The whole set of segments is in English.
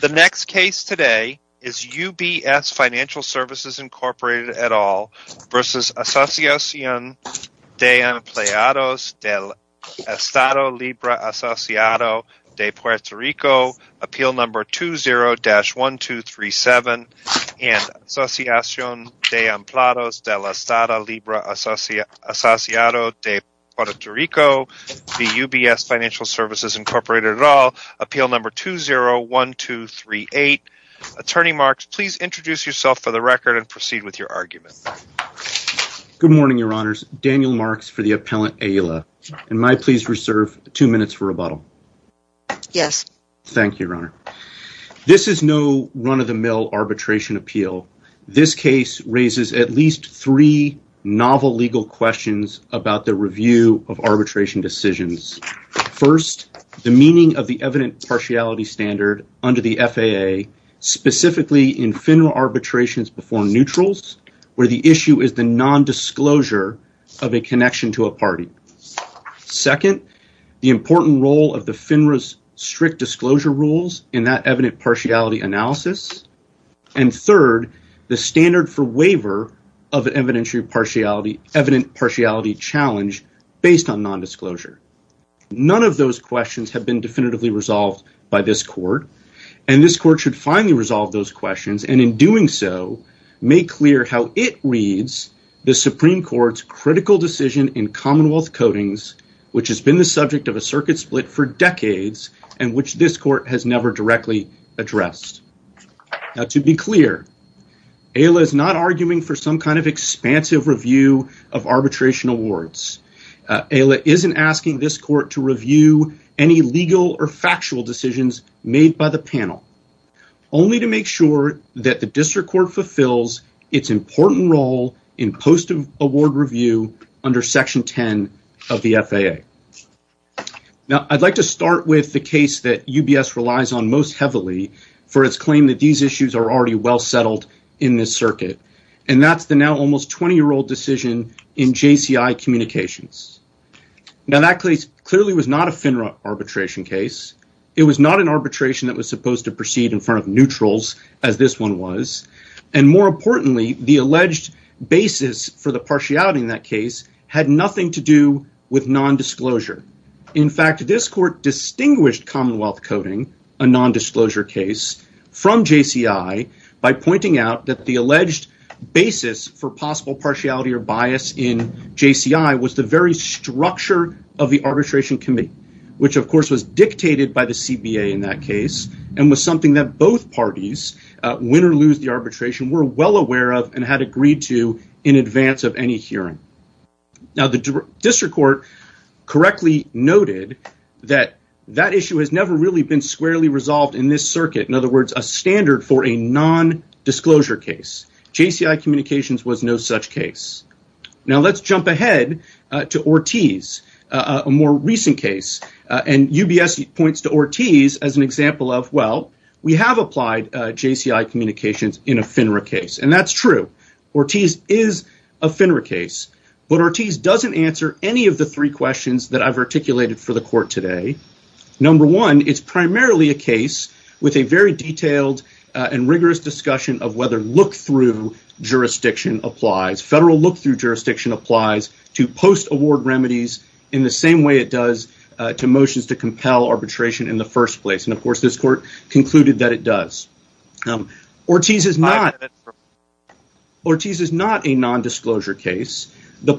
The next case today is UBS Financial Services, Inc. et al. v. Ass'n de Empleados del Estado Libre Asociado de Puerto Rico, Appeal Number 20-1237, and Ass'n de Empleados del Estado Libre Asociado de Puerto Rico v. UBS Financial Services, Inc. et al., Appeal Number 20-1238. Attorney Marks, please introduce yourself for the record and proceed with your argument. Good morning, Your Honors. Daniel Marks for the appellant, Ayala. And may I please reserve two minutes for rebuttal? Yes. Thank you, Your Honor. This is no run-of-the-mill arbitration appeal. This case raises at least three novel legal questions about the review of arbitration decisions. First, the meaning of the evident partiality standard under the FAA, specifically in FINRA arbitrations before neutrals where the issue is the nondisclosure of a connection to a party. Second, the important role of the FINRA's strict disclosure rules in that evident partiality analysis. And third, the standard for waiver of evident partiality challenge based on nondisclosure. None of those questions have been definitively resolved by this Court, and this Court should finally resolve those questions and, in doing so, make clear how it reads the Supreme Court's critical decision in Commonwealth Codings, which has been the subject of a circuit split for decades and which this Court has never directly addressed. Now, to be clear, Ayala is not arguing for some kind of expansive review of arbitration awards. Ayala isn't asking this Court to review any legal or factual decisions made by the panel, only to make sure that the District Court fulfills its important role in post-award review under Section 10 of the FAA. Now, I'd like to start with the issue that UBS relies on most heavily for its claim that these issues are already well settled in this circuit, and that's the now almost 20-year-old decision in JCI Communications. Now, that case clearly was not a FINRA arbitration case. It was not an arbitration that was supposed to proceed in front of neutrals, as this one was. And more importantly, the alleged basis for the partiality in that case had nothing to do with nondisclosure. In fact, this Court distinguished Commonwealth Coding, a nondisclosure case, from JCI by pointing out that the alleged basis for possible partiality or bias in JCI was the very structure of the arbitration committee, which, of course, was dictated by the CBA in that case and was something that both parties, win or lose the arbitration, were well aware of and had agreed to in advance of any hearing. Now, the District Court correctly noted that that issue has never really been squarely resolved in this circuit. In other words, a standard for a nondisclosure case. JCI Communications was no such case. Now, let's jump ahead to Ortiz, a more recent case, and UBS points to Ortiz as an example of, well, we have applied JCI Communications in a FINRA case, and that's true. Ortiz is a FINRA case, but Ortiz doesn't answer any of the three questions that I've articulated for the Court today. Number one, it's primarily a case with a very detailed and rigorous discussion of whether look-through jurisdiction applies. Federal look-through jurisdiction applies to post-award remedies in the same way it does to motions to compel arbitration in the first place, and, the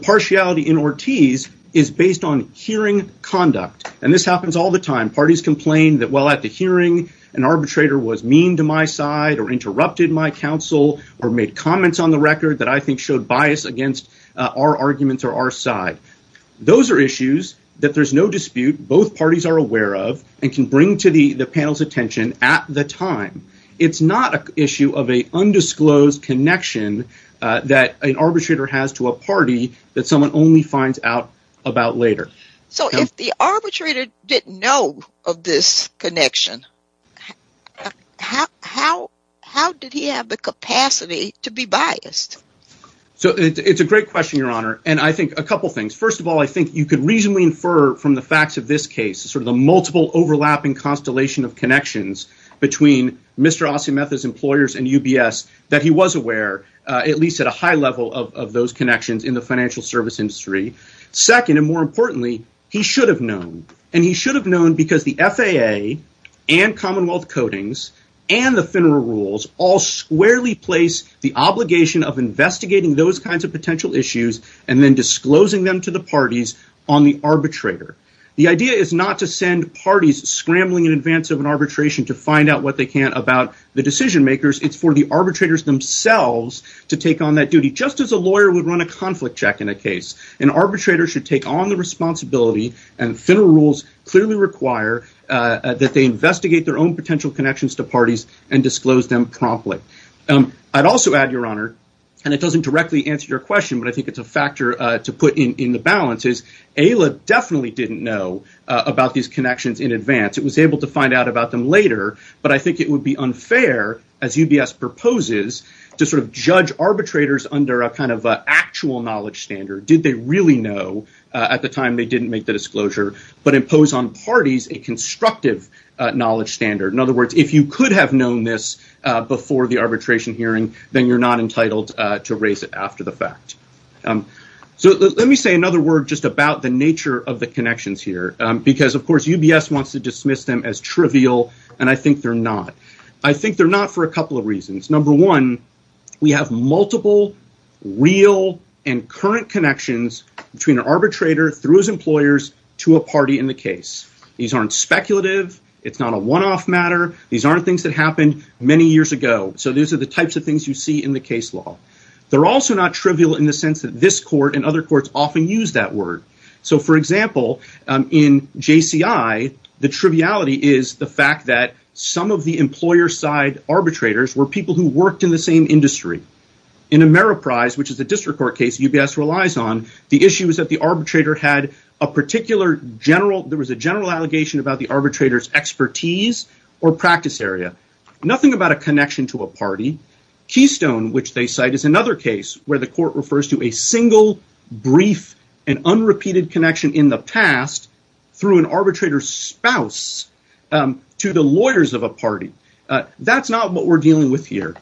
partiality in Ortiz is based on hearing conduct, and this happens all the time. Parties complain that, well, at the hearing, an arbitrator was mean to my side or interrupted my counsel or made comments on the record that I think showed bias against our arguments or our side. Those are issues that there's no dispute, both parties are aware of, and can bring to the panel's attention at the time. It's not an issue of an undisclosed connection that an arbitrator has to a party that someone only finds out about later. So, if the arbitrator didn't know of this connection, how did he have the capacity to be biased? So, it's a great question, Your Honor, and I think a couple of things. First of all, I think you could reasonably infer from the facts of this case, sort of the multiple overlapping constellation of connections between Mr. Ortiz and the financial service industry. Second, and more importantly, he should have known, and he should have known because the FAA and Commonwealth Codings and the FINRA rules all squarely place the obligation of investigating those kinds of potential issues and then disclosing them to the parties on the arbitrator. The idea is not to send parties scrambling in advance of an arbitration to find out what they can about the decision makers. It's for the to take on that duty, just as a lawyer would run a conflict check in a case. An arbitrator should take on the responsibility, and FINRA rules clearly require that they investigate their own potential connections to parties and disclose them promptly. I'd also add, Your Honor, and it doesn't directly answer your question, but I think it's a factor to put in the balance, is AILA definitely didn't know about these connections in advance. It was able to find out about them but I think it would be unfair, as UBS proposes, to sort of judge arbitrators under a kind of actual knowledge standard. Did they really know at the time they didn't make the disclosure, but impose on parties a constructive knowledge standard? In other words, if you could have known this before the arbitration hearing, then you're not entitled to raise it after the fact. Let me say another word just about the nature of the connections here because, of course, UBS wants to dismiss them as trivial, and I think they're not. I think they're not for a couple of reasons. Number one, we have multiple real and current connections between an arbitrator through his employers to a party in the case. These aren't speculative. It's not a one-off matter. These aren't things that happened many years ago. So these are the types of things you see in the case law. They're also not trivial in the sense that this court and other courts often use that word. For example, in JCI, the triviality is the fact that some of the employer-side arbitrators were people who worked in the same industry. In Ameriprise, which is a district court case UBS relies on, the issue is that the arbitrator had a particular general... There was a general allegation about the arbitrator's expertise or practice area. Nothing about a connection to a party. Keystone, which they cite, is another case where the court refers to a single, brief, and unrepeated connection in the past through an arbitrator's spouse to the lawyers of a party. That's not what we're dealing with here,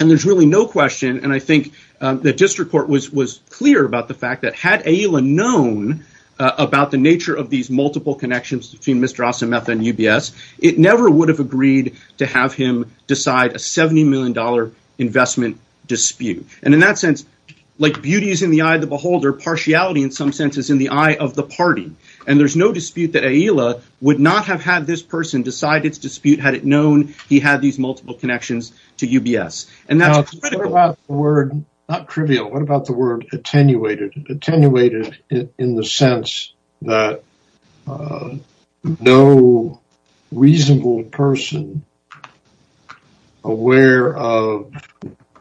and there's really no question, and I think the district court was clear about the fact that had AILA known about the nature of these multiple connections between Mr. Ossimeth and UBS, it never would have agreed to have him decide a $70 in some senses in the eye of the party. There's no dispute that AILA would not have had this person decide its dispute had it known he had these multiple connections to UBS. Not trivial. What about the word attenuated? Attenuated in the sense that no reasonable person aware of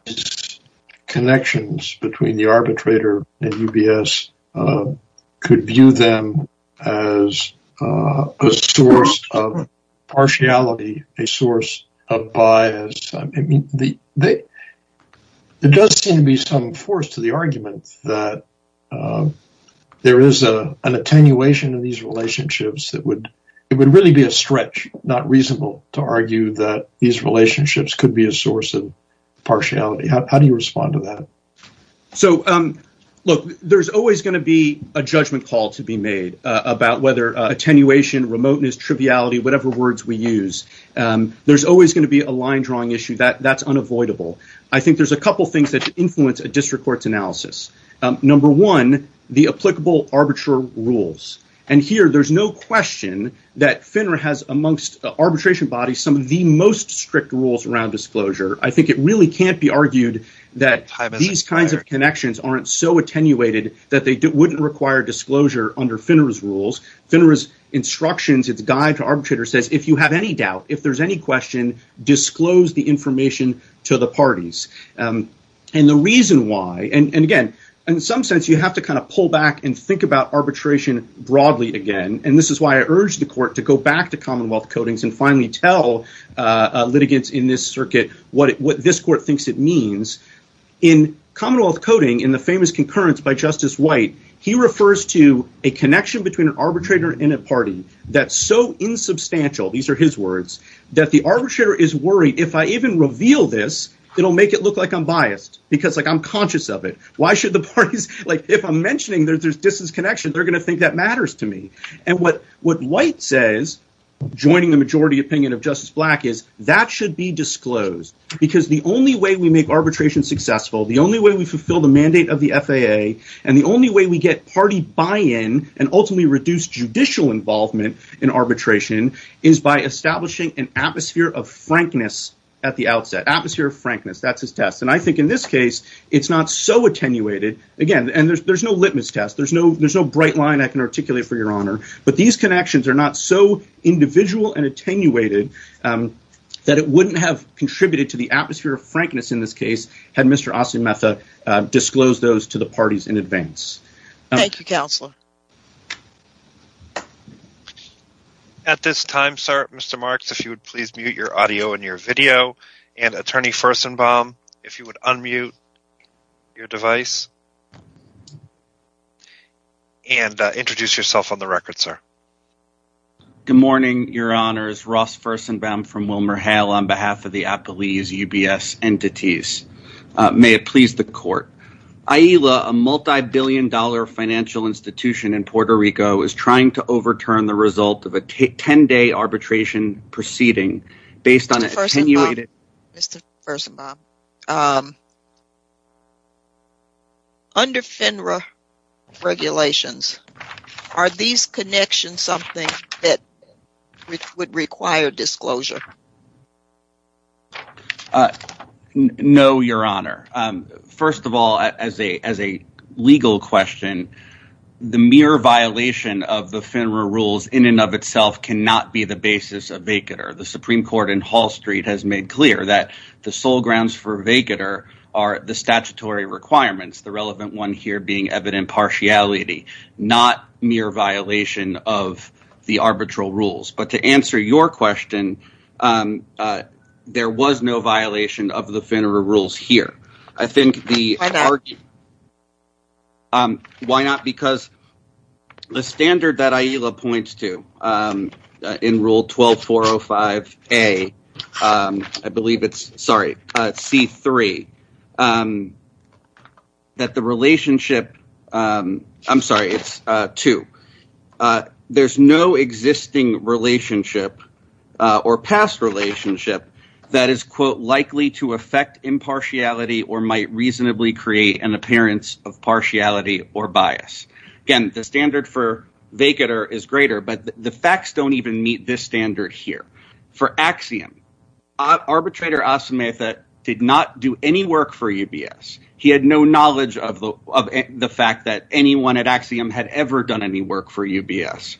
these connections between the arbitrator and UBS could view them as a source of partiality, a source of bias. There does seem to be some force to the argument that there is an attenuation in relationships. It would really be a stretch, not reasonable, to argue that these relationships could be a source of partiality. How do you respond to that? There's always going to be a judgment call to be made about whether attenuation, remoteness, triviality, whatever words we use. There's always going to be a line-drawing issue. That's unavoidable. I think there's a couple things that influence a district court's analysis. Number one, the question that FINRA has amongst arbitration bodies, some of the most strict rules around disclosure. I think it really can't be argued that these kinds of connections aren't so attenuated that they wouldn't require disclosure under FINRA's rules. FINRA's instructions, its guide to arbitrators says, if you have any doubt, if there's any question, disclose the information to the parties. In some sense, you have to pull back and think about arbitration broadly again. This is why I urge the court to go back to Commonwealth Codings and finally tell litigants in this circuit what this court thinks it means. In Commonwealth Coding, in the famous concurrence by Justice White, he refers to a connection between an arbitrator and a party that's so insubstantial, these are his words, that the arbitrator is worried, if I even reveal this, it'll make it look like I'm biased because I'm conscious of it. Why should the parties, if I'm mentioning that there's disconnection, they're going to think that matters to me. What White says, joining the majority opinion of Justice Black is, that should be disclosed because the only way we make arbitration successful, the only way we fulfill the mandate of the FAA, and the only way we get party buy-in and ultimately reduce judicial involvement in arbitration is by establishing an atmosphere of frankness at the outset, atmosphere of frankness, that's his test. And I think in this case, it's not so attenuated, again, and there's no litmus test, there's no bright line I can articulate for your honor, but these connections are not so individual and attenuated that it wouldn't have contributed to the atmosphere of frankness in this case had Mr. Asimetha disclosed those to the parties in advance. Thank you, Counselor. At this time, sir, Mr. Marks, if you would please mute your audio and your video, and Attorney Furstenbaum, if you would unmute your device, and introduce yourself on the record, sir. Good morning, your honors. Ross Furstenbaum from WilmerHale on behalf of the Applese UBS entities. May it please the court. AILA, a multi-billion dollar financial institution in Puerto Rico is trying to overturn the result of a 10-day arbitration proceeding based on... Mr. Furstenbaum, Mr. Furstenbaum, under FINRA regulations, are these connections something that would require disclosure? Uh, no, your honor. First of all, as a legal question, the mere violation of the FINRA rules in and of itself cannot be the basis of vacater. The Supreme Court in Hall Street has made clear that the sole grounds for vacater are the statutory requirements, the relevant one here being evident partiality, not mere violation of the arbitral rules. But to answer your question, um, uh, there was no violation of the FINRA rules here. I think the... Why not? Because the standard that AILA points to, um, in rule 12-405-A, um, I believe it's, sorry, uh, C-3, um, that the relationship, um, I'm sorry, it's, uh, 2. Uh, there's no existing relationship, uh, or past relationship that is, quote, likely to affect impartiality or might reasonably create an appearance of partiality or bias. Again, the standard for vacater is greater, but the facts don't even meet this standard here. For Axiom, arbitrator Asimov did not do any work for UBS. He had no knowledge of the, of the fact that anyone at Axiom had ever done any work for UBS.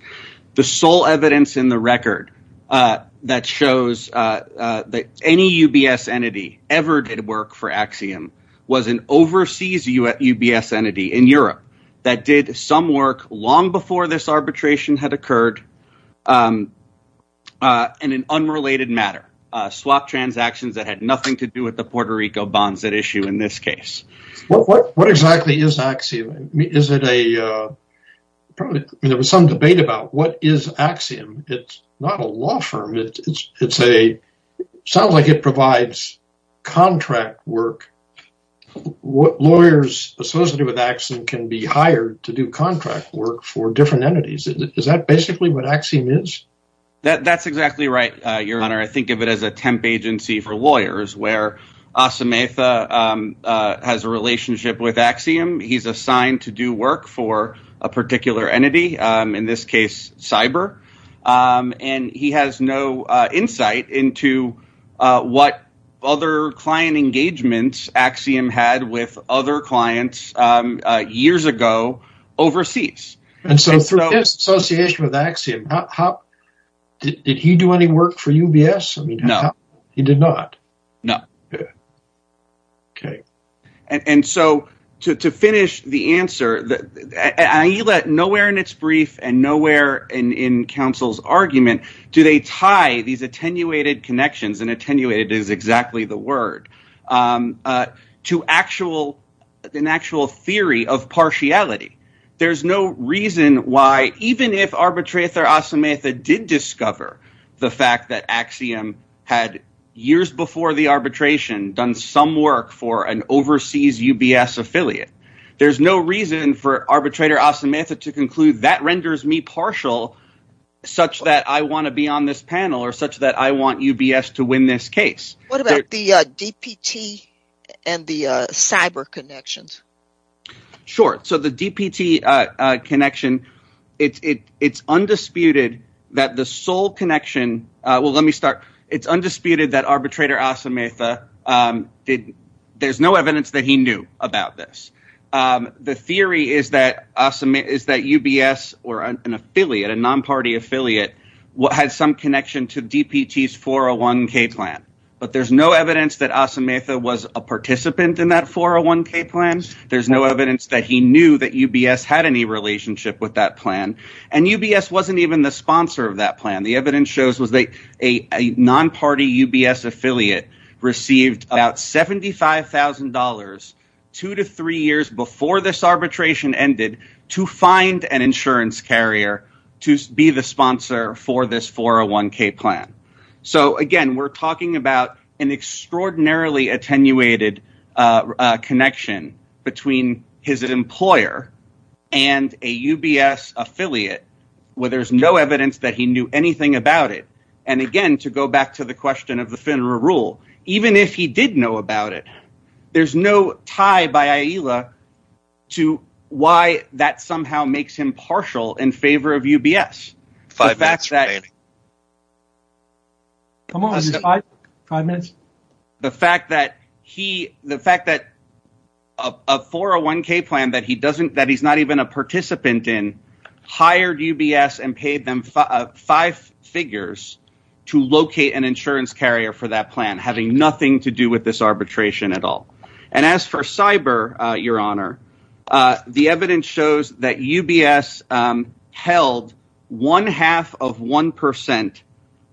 The sole evidence in the record, uh, that shows, uh, that any UBS entity ever did work for Axiom was an overseas UBS entity in Europe that did some work long before this arbitration had occurred, um, uh, in an unrelated matter, uh, swap transactions that had nothing to do with the Puerto Rico bonds at issue in this case. What, what, what exactly is it a, uh, probably, I mean, there was some debate about what is Axiom. It's not a law firm. It's, it's a, sounds like it provides contract work. What lawyers associated with Axiom can be hired to do contract work for different entities. Is that basically what Axiom is? That, that's exactly right, uh, your honor. I think of it as a temp agency for lawyers where Asimov, um, uh, has a work for a particular entity, um, in this case, cyber, um, and he has no, uh, insight into, uh, what other client engagements Axiom had with other clients, um, uh, years ago overseas. And so through his association with Axiom, how did he do any work for UBS? I mean, he did not. No. Okay. And, and so to, to finish the answer that you let nowhere in its brief and nowhere in, in counsel's argument, do they tie these attenuated connections and attenuated is exactly the word, um, uh, to actual, an actual theory of partiality. There's no reason why, even if Arbitrator Asimov did discover the fact that Axiom had years before the arbitration done some work for an overseas UBS affiliate, there's no reason for Arbitrator Asimov to conclude that renders me partial such that I want to be on this panel or such that I want UBS to win this case. What about the, uh, DPT and the, uh, cyber connections? Sure. So the DPT, uh, uh, connection, it's, it, it's undisputed that the sole connection, uh, well, let me start. It's undisputed that Arbitrator Asimov, um, did, there's no evidence that he knew about this. Um, the theory is that Asimov is that UBS or an affiliate, a non-party affiliate, what has some connection to DPTs 401k plan, but there's no evidence that was a participant in that 401k plans. There's no evidence that he knew that UBS had any relationship with that plan. And UBS wasn't even the sponsor of that plan. The evidence shows was that a non-party UBS affiliate received about $75,000 two to three years before this arbitration ended to find an insurance carrier to be the sponsor for this 401k plan. So again, we're attenuated, uh, uh, connection between his employer and a UBS affiliate, where there's no evidence that he knew anything about it. And again, to go back to the question of the FINRA rule, even if he did know about it, there's no tie by AILA to why that somehow makes him partial in favor of UBS. The fact that he, the fact that a 401k plan that he doesn't, that he's not even a participant in hired UBS and paid them five figures to locate an insurance carrier for that plan, having nothing to do with this arbitration at all. And as for cyber, uh, uh, the evidence shows that UBS, um, held one half of 1%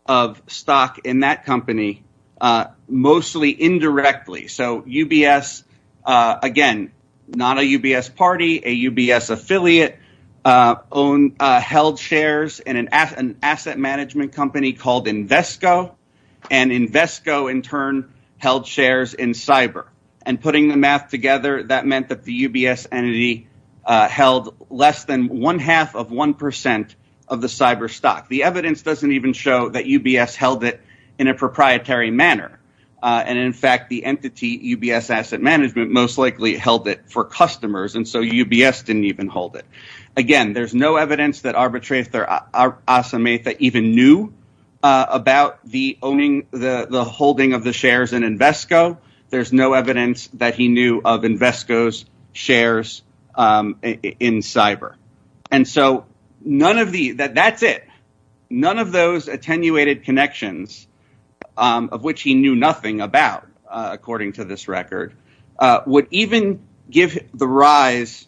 of stock in that company, uh, mostly indirectly. So UBS, uh, again, not a UBS party, a UBS affiliate, uh, own, uh, held shares in an asset, an asset management company called Invesco and Invesco in turn held shares in cyber and putting the math together. That meant that the UBS entity, uh, held less than one half of 1% of the cyber stock. The evidence doesn't even show that UBS held it in a proprietary manner. Uh, and in fact, the entity UBS asset management most likely held it for customers. And so UBS didn't even hold it. Again, there's no evidence that arbitrate there are awesome, even knew, uh, about the owning the, the holding of the shares in Invesco. There's no evidence that he knew of Invesco's shares, um, in cyber. And so none of the, that, that's it. None of those attenuated connections, um, of which he knew nothing about, uh, according to this record, uh, would even give the rise,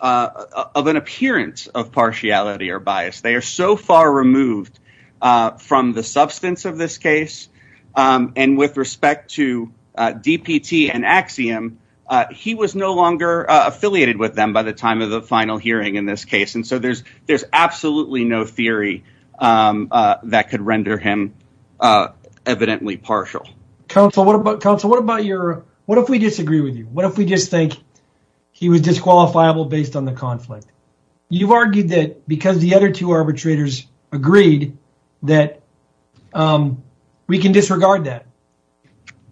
uh, of an appearance of partiality or bias. They are so far removed, uh, from the substance of this case. Um, and with respect to, uh, DPT and Axiom, uh, he was no longer affiliated with them by the time of the final hearing in this case. And so there's, there's absolutely no theory, um, uh, that could render him, uh, evidently partial. Counsel, what about counsel? What about your, what if we disagree with you? What if we just think he was disqualifiable based on the conflict? You've argued that because the other two arbitrators agreed that, um, we can disregard that.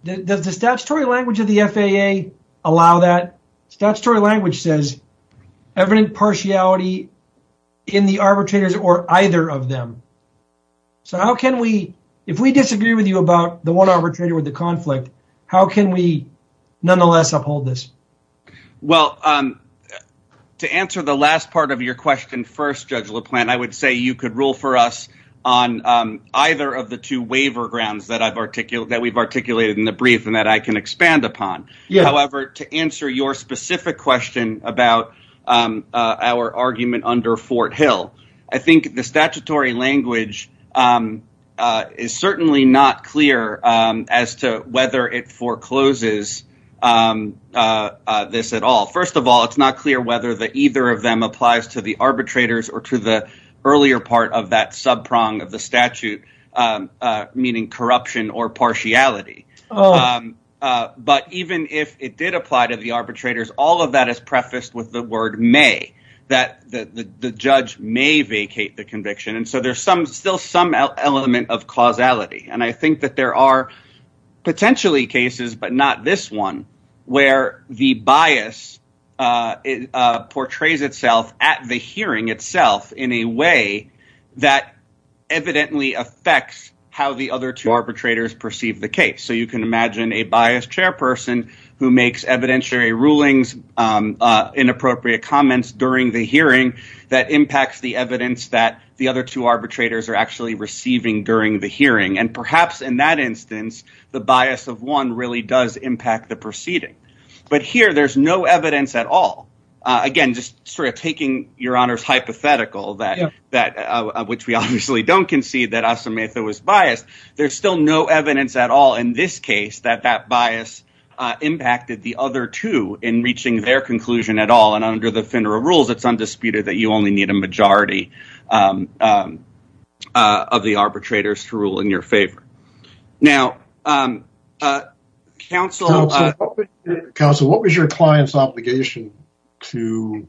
Does the statutory language of the FAA allow that? Statutory language says evident partiality in the arbitrators or either of them. So how can we, if we disagree with you about the one arbitrator with the conflict, how can we nonetheless uphold this? Well, um, to answer the last part of your question first, Judge LaPlante, I would say you could rule for us on, um, either of the two waiver grounds that I've articulated, that we've articulated in the brief and that I can expand upon. However, to answer your specific question about, um, uh, our argument under Fort Hill, I think the statutory language, um, uh, is certainly not clear, um, as to whether it forecloses, um, uh, uh, this at all. First of all, it's not clear whether the either of them applies to the arbitrators or to the earlier part of that subprong of the statute, um, uh, meaning corruption or partiality. Um, uh, but even if it did apply to the arbitrators, all of that is prefaced with the word may that the judge may vacate the conviction. And so there's some, still some element of causality. And I think that there are potentially cases, but not this one where the bias, uh, uh, portrays itself at the hearing itself in a way that evidently affects how the other two arbitrators perceive the case. So you can imagine a biased chairperson who makes evidentiary rulings, um, uh, inappropriate comments during the are actually receiving during the hearing. And perhaps in that instance, the bias of one really does impact the proceeding, but here there's no evidence at all. Uh, again, just sort of taking your honor's hypothetical that, that, uh, which we obviously don't concede that was biased. There's still no evidence at all in this case that that bias, uh, impacted the other two in reaching their conclusion at all. And under the FINRA rules, it's undisputed that you only need a majority, um, um, uh, of the arbitrators to rule in your favor. Now, um, uh, counsel, counsel, what was your client's obligation to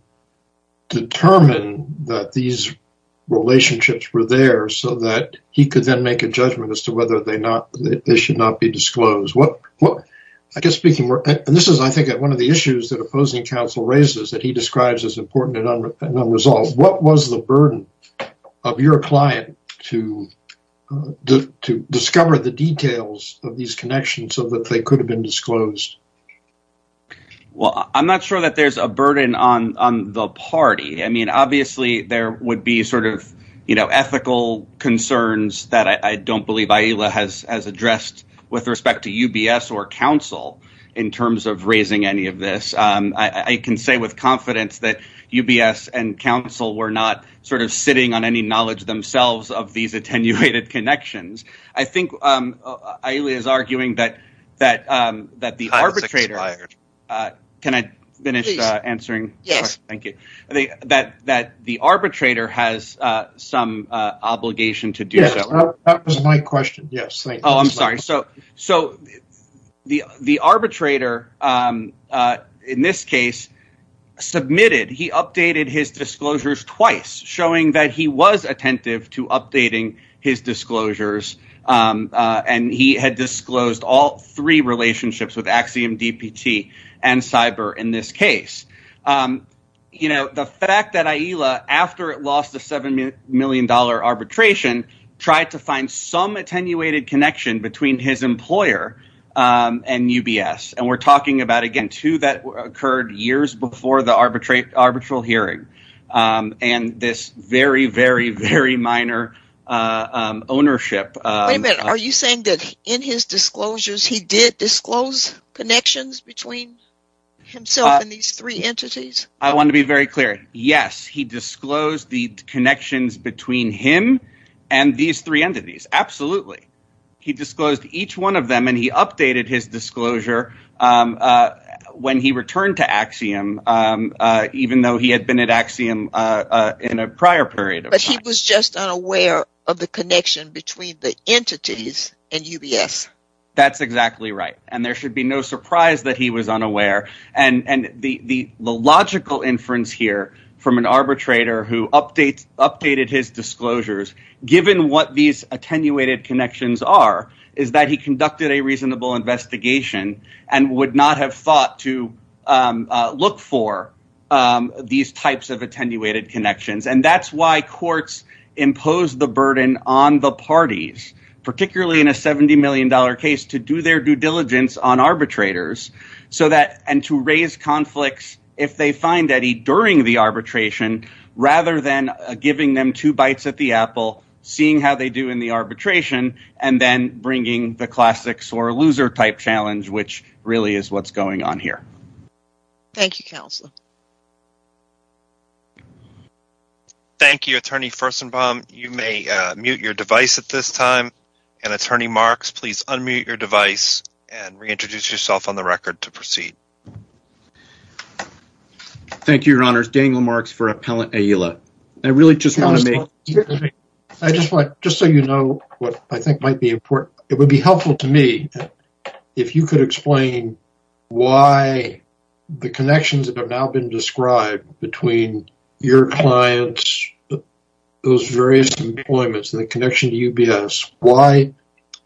determine that these relationships were there so that he could then make a judgment as to whether they not, they should not be disclosed? What, what, I guess speaking, and this is, I think one of the issues that opposing counsel raises that he describes as important and unresolved, what was the burden of your client to, to discover the details of these connections so that they could have been disclosed? Well, I'm not sure that there's a burden on, on the party. I mean, obviously there would be sort of, you know, ethical concerns that I don't believe AILA has, has addressed with respect to UBS or counsel in terms of raising any of this. Um, I, I can say with confidence that UBS and counsel were not sort of sitting on any knowledge themselves of these attenuated connections. I think, um, AILA is arguing that, that, um, that the arbitrator, uh, can I finish answering? Yes. Thank you. That, that the arbitrator has, uh, some, uh, obligation to do so. That was my question. Yes. Oh, I'm sorry. So, so the, the arbitrator, um, uh, in this case submitted, he updated his disclosures twice showing that he was attentive to updating his disclosures. Um, uh, and he had disclosed all three relationships with Axiom DPT and cyber in this case. Um, you know, the fact that between his employer, um, and UBS, and we're talking about, again, two that occurred years before the arbitrate arbitral hearing, um, and this very, very, very minor, uh, um, ownership. Are you saying that in his disclosures, he did disclose connections between himself and these three entities? I want to be very clear. Yes. He disclosed the connections between him and these three entities. Absolutely. He disclosed each one of them and he updated his disclosure. Um, uh, when he returned to Axiom, um, uh, even though he had been at Axiom, uh, uh, in a prior period, but he was just unaware of the connection between the entities and UBS. That's exactly right. And there should be no surprise that he was unaware and, and the, the, the logical inference here from an arbitrator who updates updated his disclosures, given what these attenuated connections are, is that he conducted a reasonable investigation and would not have thought to, um, uh, look for, um, these types of attenuated connections. And that's why courts impose the burden on the parties, particularly in a $70 million case to do their due diligence on arbitration, rather than giving them two bites at the apple, seeing how they do in the arbitration and then bringing the classics or a loser type challenge, which really is what's going on here. Thank you, counsel. Thank you, attorney. First and bomb. You may mute your device at this time and attorney marks, please unmute your device and reintroduce yourself on the record to proceed. Thank you, your honors. Daniel Marks for Appellant Aila. I really just want to make, I just want, just so you know what I think might be important. It would be helpful to me if you could explain why the connections that have now been described between your clients, those various deployments and the connection to UBS, why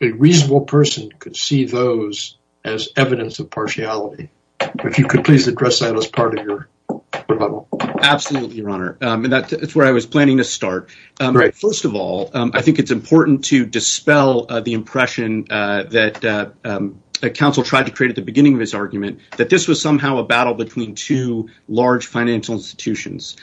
a reasonable person could see those as evidence of partiality. If you could please address that as part of your rebuttal. Absolutely, your honor. That's where I was planning to start. First of all, I think it's important to dispel the impression that counsel tried to create at the beginning of his argument that this was somehow a battle between two large financial institutions.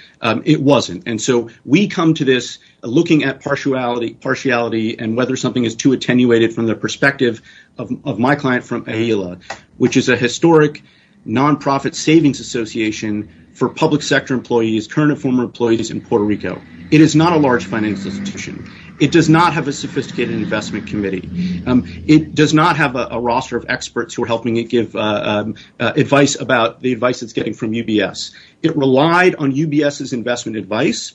It wasn't. And so we come to this looking at partiality and whether something is too attenuated from the perspective of my client from Aila, which is a historic non-profit savings association for public sector employees, current and former employees in Puerto Rico. It is not a large financial institution. It does not have a sophisticated investment committee. It does not have a roster of experts who are helping it give advice about the advice it's getting from UBS. It relied on UBS's investment advice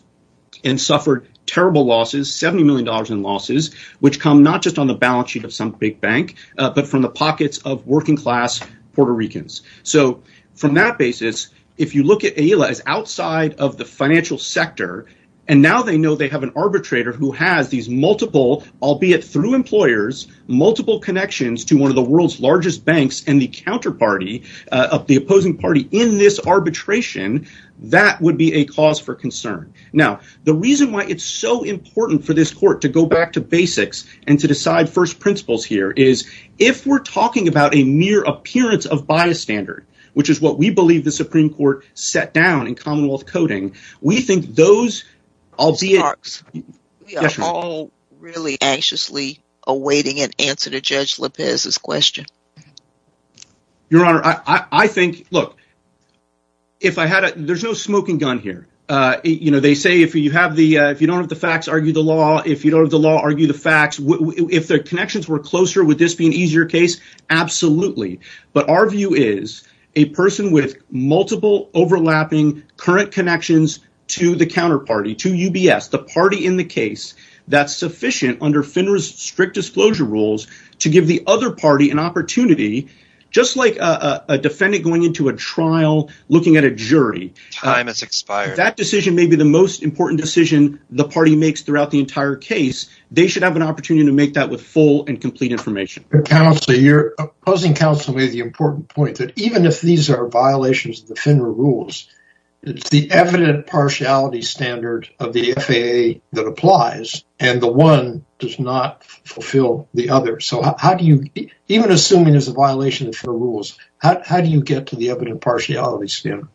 and suffered terrible losses, $70 million in losses, which come not just on the balance sheet of some big bank, but from the pockets of working class Puerto Ricans. So from that basis, if you look at Aila as outside of the financial sector, and now they know they have an arbitrator who has these multiple, albeit through employers, multiple connections to one of the world's largest banks and the counterparty of the opposing party in this arbitration, that would be a cause for concern. Now, the reason why it's so important for this court to go back to basics and to decide first principles here is, if we're talking about a mere appearance of bystander, which is what we believe the Supreme Court set down in Commonwealth coding, we think those... We are all really anxiously awaiting an answer to Judge Lopez's question. Your Honor, I think, look, there's no smoking gun here. They say if you don't have the facts, argue the law. If you don't have the law, argue the facts. If the connections were closer, would this be an easier case? Absolutely. But our view is a person with multiple overlapping current connections to the counterparty, to UBS, the party in the case, that's sufficient under FINRA's strict disclosure rules to give the other party an opportunity, just like a defendant going into a trial looking at a jury. Time has expired. That decision may be the most important decision the party makes throughout the entire case. They should have an opportunity to make that with full and complete information. Counselor, you're opposing counsel with the important point that even if these are violations of the FINRA rules, it's the evident partiality standard of the FAA that applies, and the one does not fulfill the other. So how do you... Even assuming it's a violation of FINRA rules, how do you get to the evident partiality standard?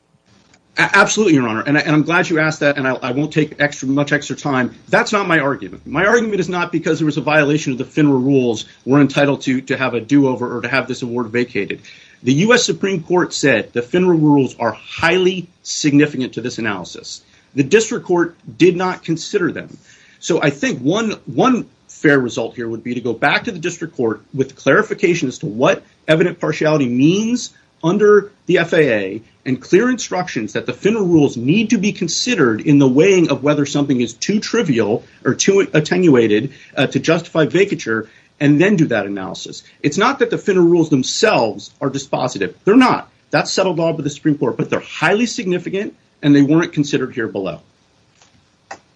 Absolutely, Your Excellency, I'm going to give you some much extra time. That's not my argument. My argument is not because it was a violation of the FINRA rules. We're entitled to have a do-over or to have this award vacated. The U.S. Supreme Court said the FINRA rules are highly significant to this analysis. The district court did not consider them. So I think one fair result here would be to go back to the district court with clarification as to what evident partiality means under the FAA and instructions that the FINRA rules need to be considered in the weighing of whether something is too trivial or too attenuated to justify vacature and then do that analysis. It's not that the FINRA rules themselves are dispositive. They're not. That's settled by the Supreme Court, but they're highly significant and they weren't considered here below.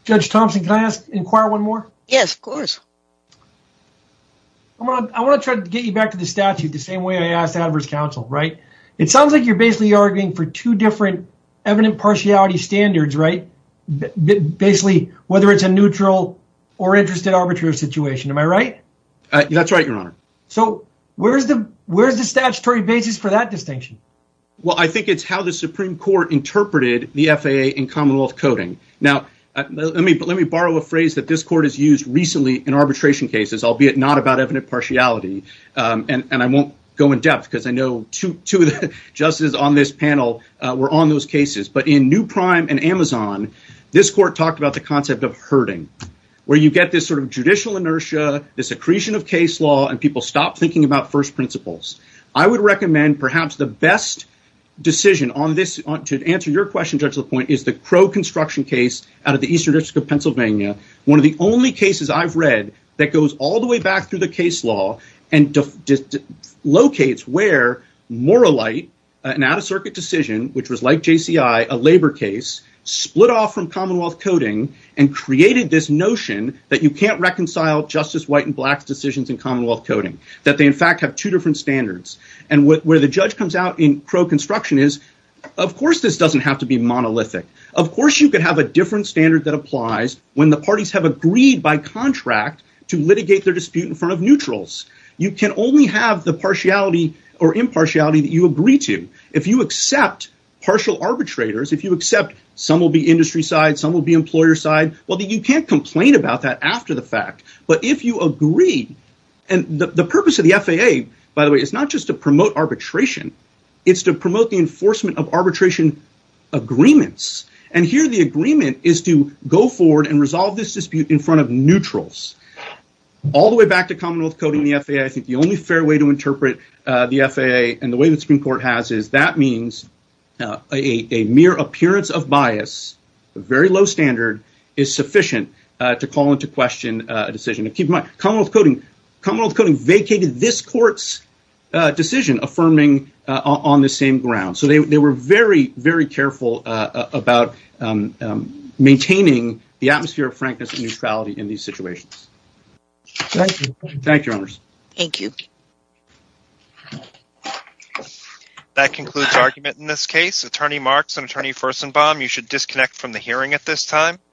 Judge Thompson, can I inquire one more? Yes, of course. I want to try to get you back to the statute the same way I asked adverse counsel, right? It sounds like you're basically arguing for two different evident partiality standards, right? Basically, whether it's a neutral or interested arbitrary situation. Am I right? That's right, your honor. So where's the statutory basis for that distinction? Well, I think it's how the Supreme Court interpreted the FAA in commonwealth coding. Now, let me borrow a phrase that this court has used recently in arbitration cases, albeit not about evident partiality. And I won't go in depth because I know two of the justices on this panel were on those cases. But in New Prime and Amazon, this court talked about the concept of herding, where you get this sort of judicial inertia, this accretion of case law, and people stop thinking about first principles. I would recommend perhaps the best decision to answer your question, Judge LaPointe, is the Crow construction case out of the Eastern District of Pennsylvania. One of the only cases I've read that goes all the way back through the case law and just locates where Moralight, an out-of-circuit decision, which was like JCI, a labor case, split off from commonwealth coding and created this notion that you can't reconcile justice, white and black decisions in commonwealth coding, that they in fact have two different standards. And where the judge comes out in Crow construction is, of course, this doesn't have to be monolithic. Of course, you could have a different standard that applies when the parties have agreed by contract to litigate their dispute in front of neutrals. You can only have the partiality or impartiality that you agree to. If you accept partial arbitrators, if you accept some will be industry side, some will be employer side, well, then you can't complain about that after the fact. But if you agree, and the purpose of the FAA, by the way, is not just to promote arbitration, it's to promote the enforcement of arbitration agreements. And here the agreement is to go forward and resolve this dispute in front of neutrals. All the way back to commonwealth coding the FAA, I think the only fair way to interpret the FAA and the way the Supreme Court has is that means a mere appearance of bias, a very low standard, is sufficient to call into question a decision. Keep in mind, commonwealth coding vacated this court's decision affirming on the same ground. So they were very, very careful about maintaining the atmosphere of frankness and neutrality in these situations. Thank you, Your Honors. Thank you. That concludes argument in this case. Attorney Marks and Attorney Furstenbaum, you should disconnect from the hearing at this time.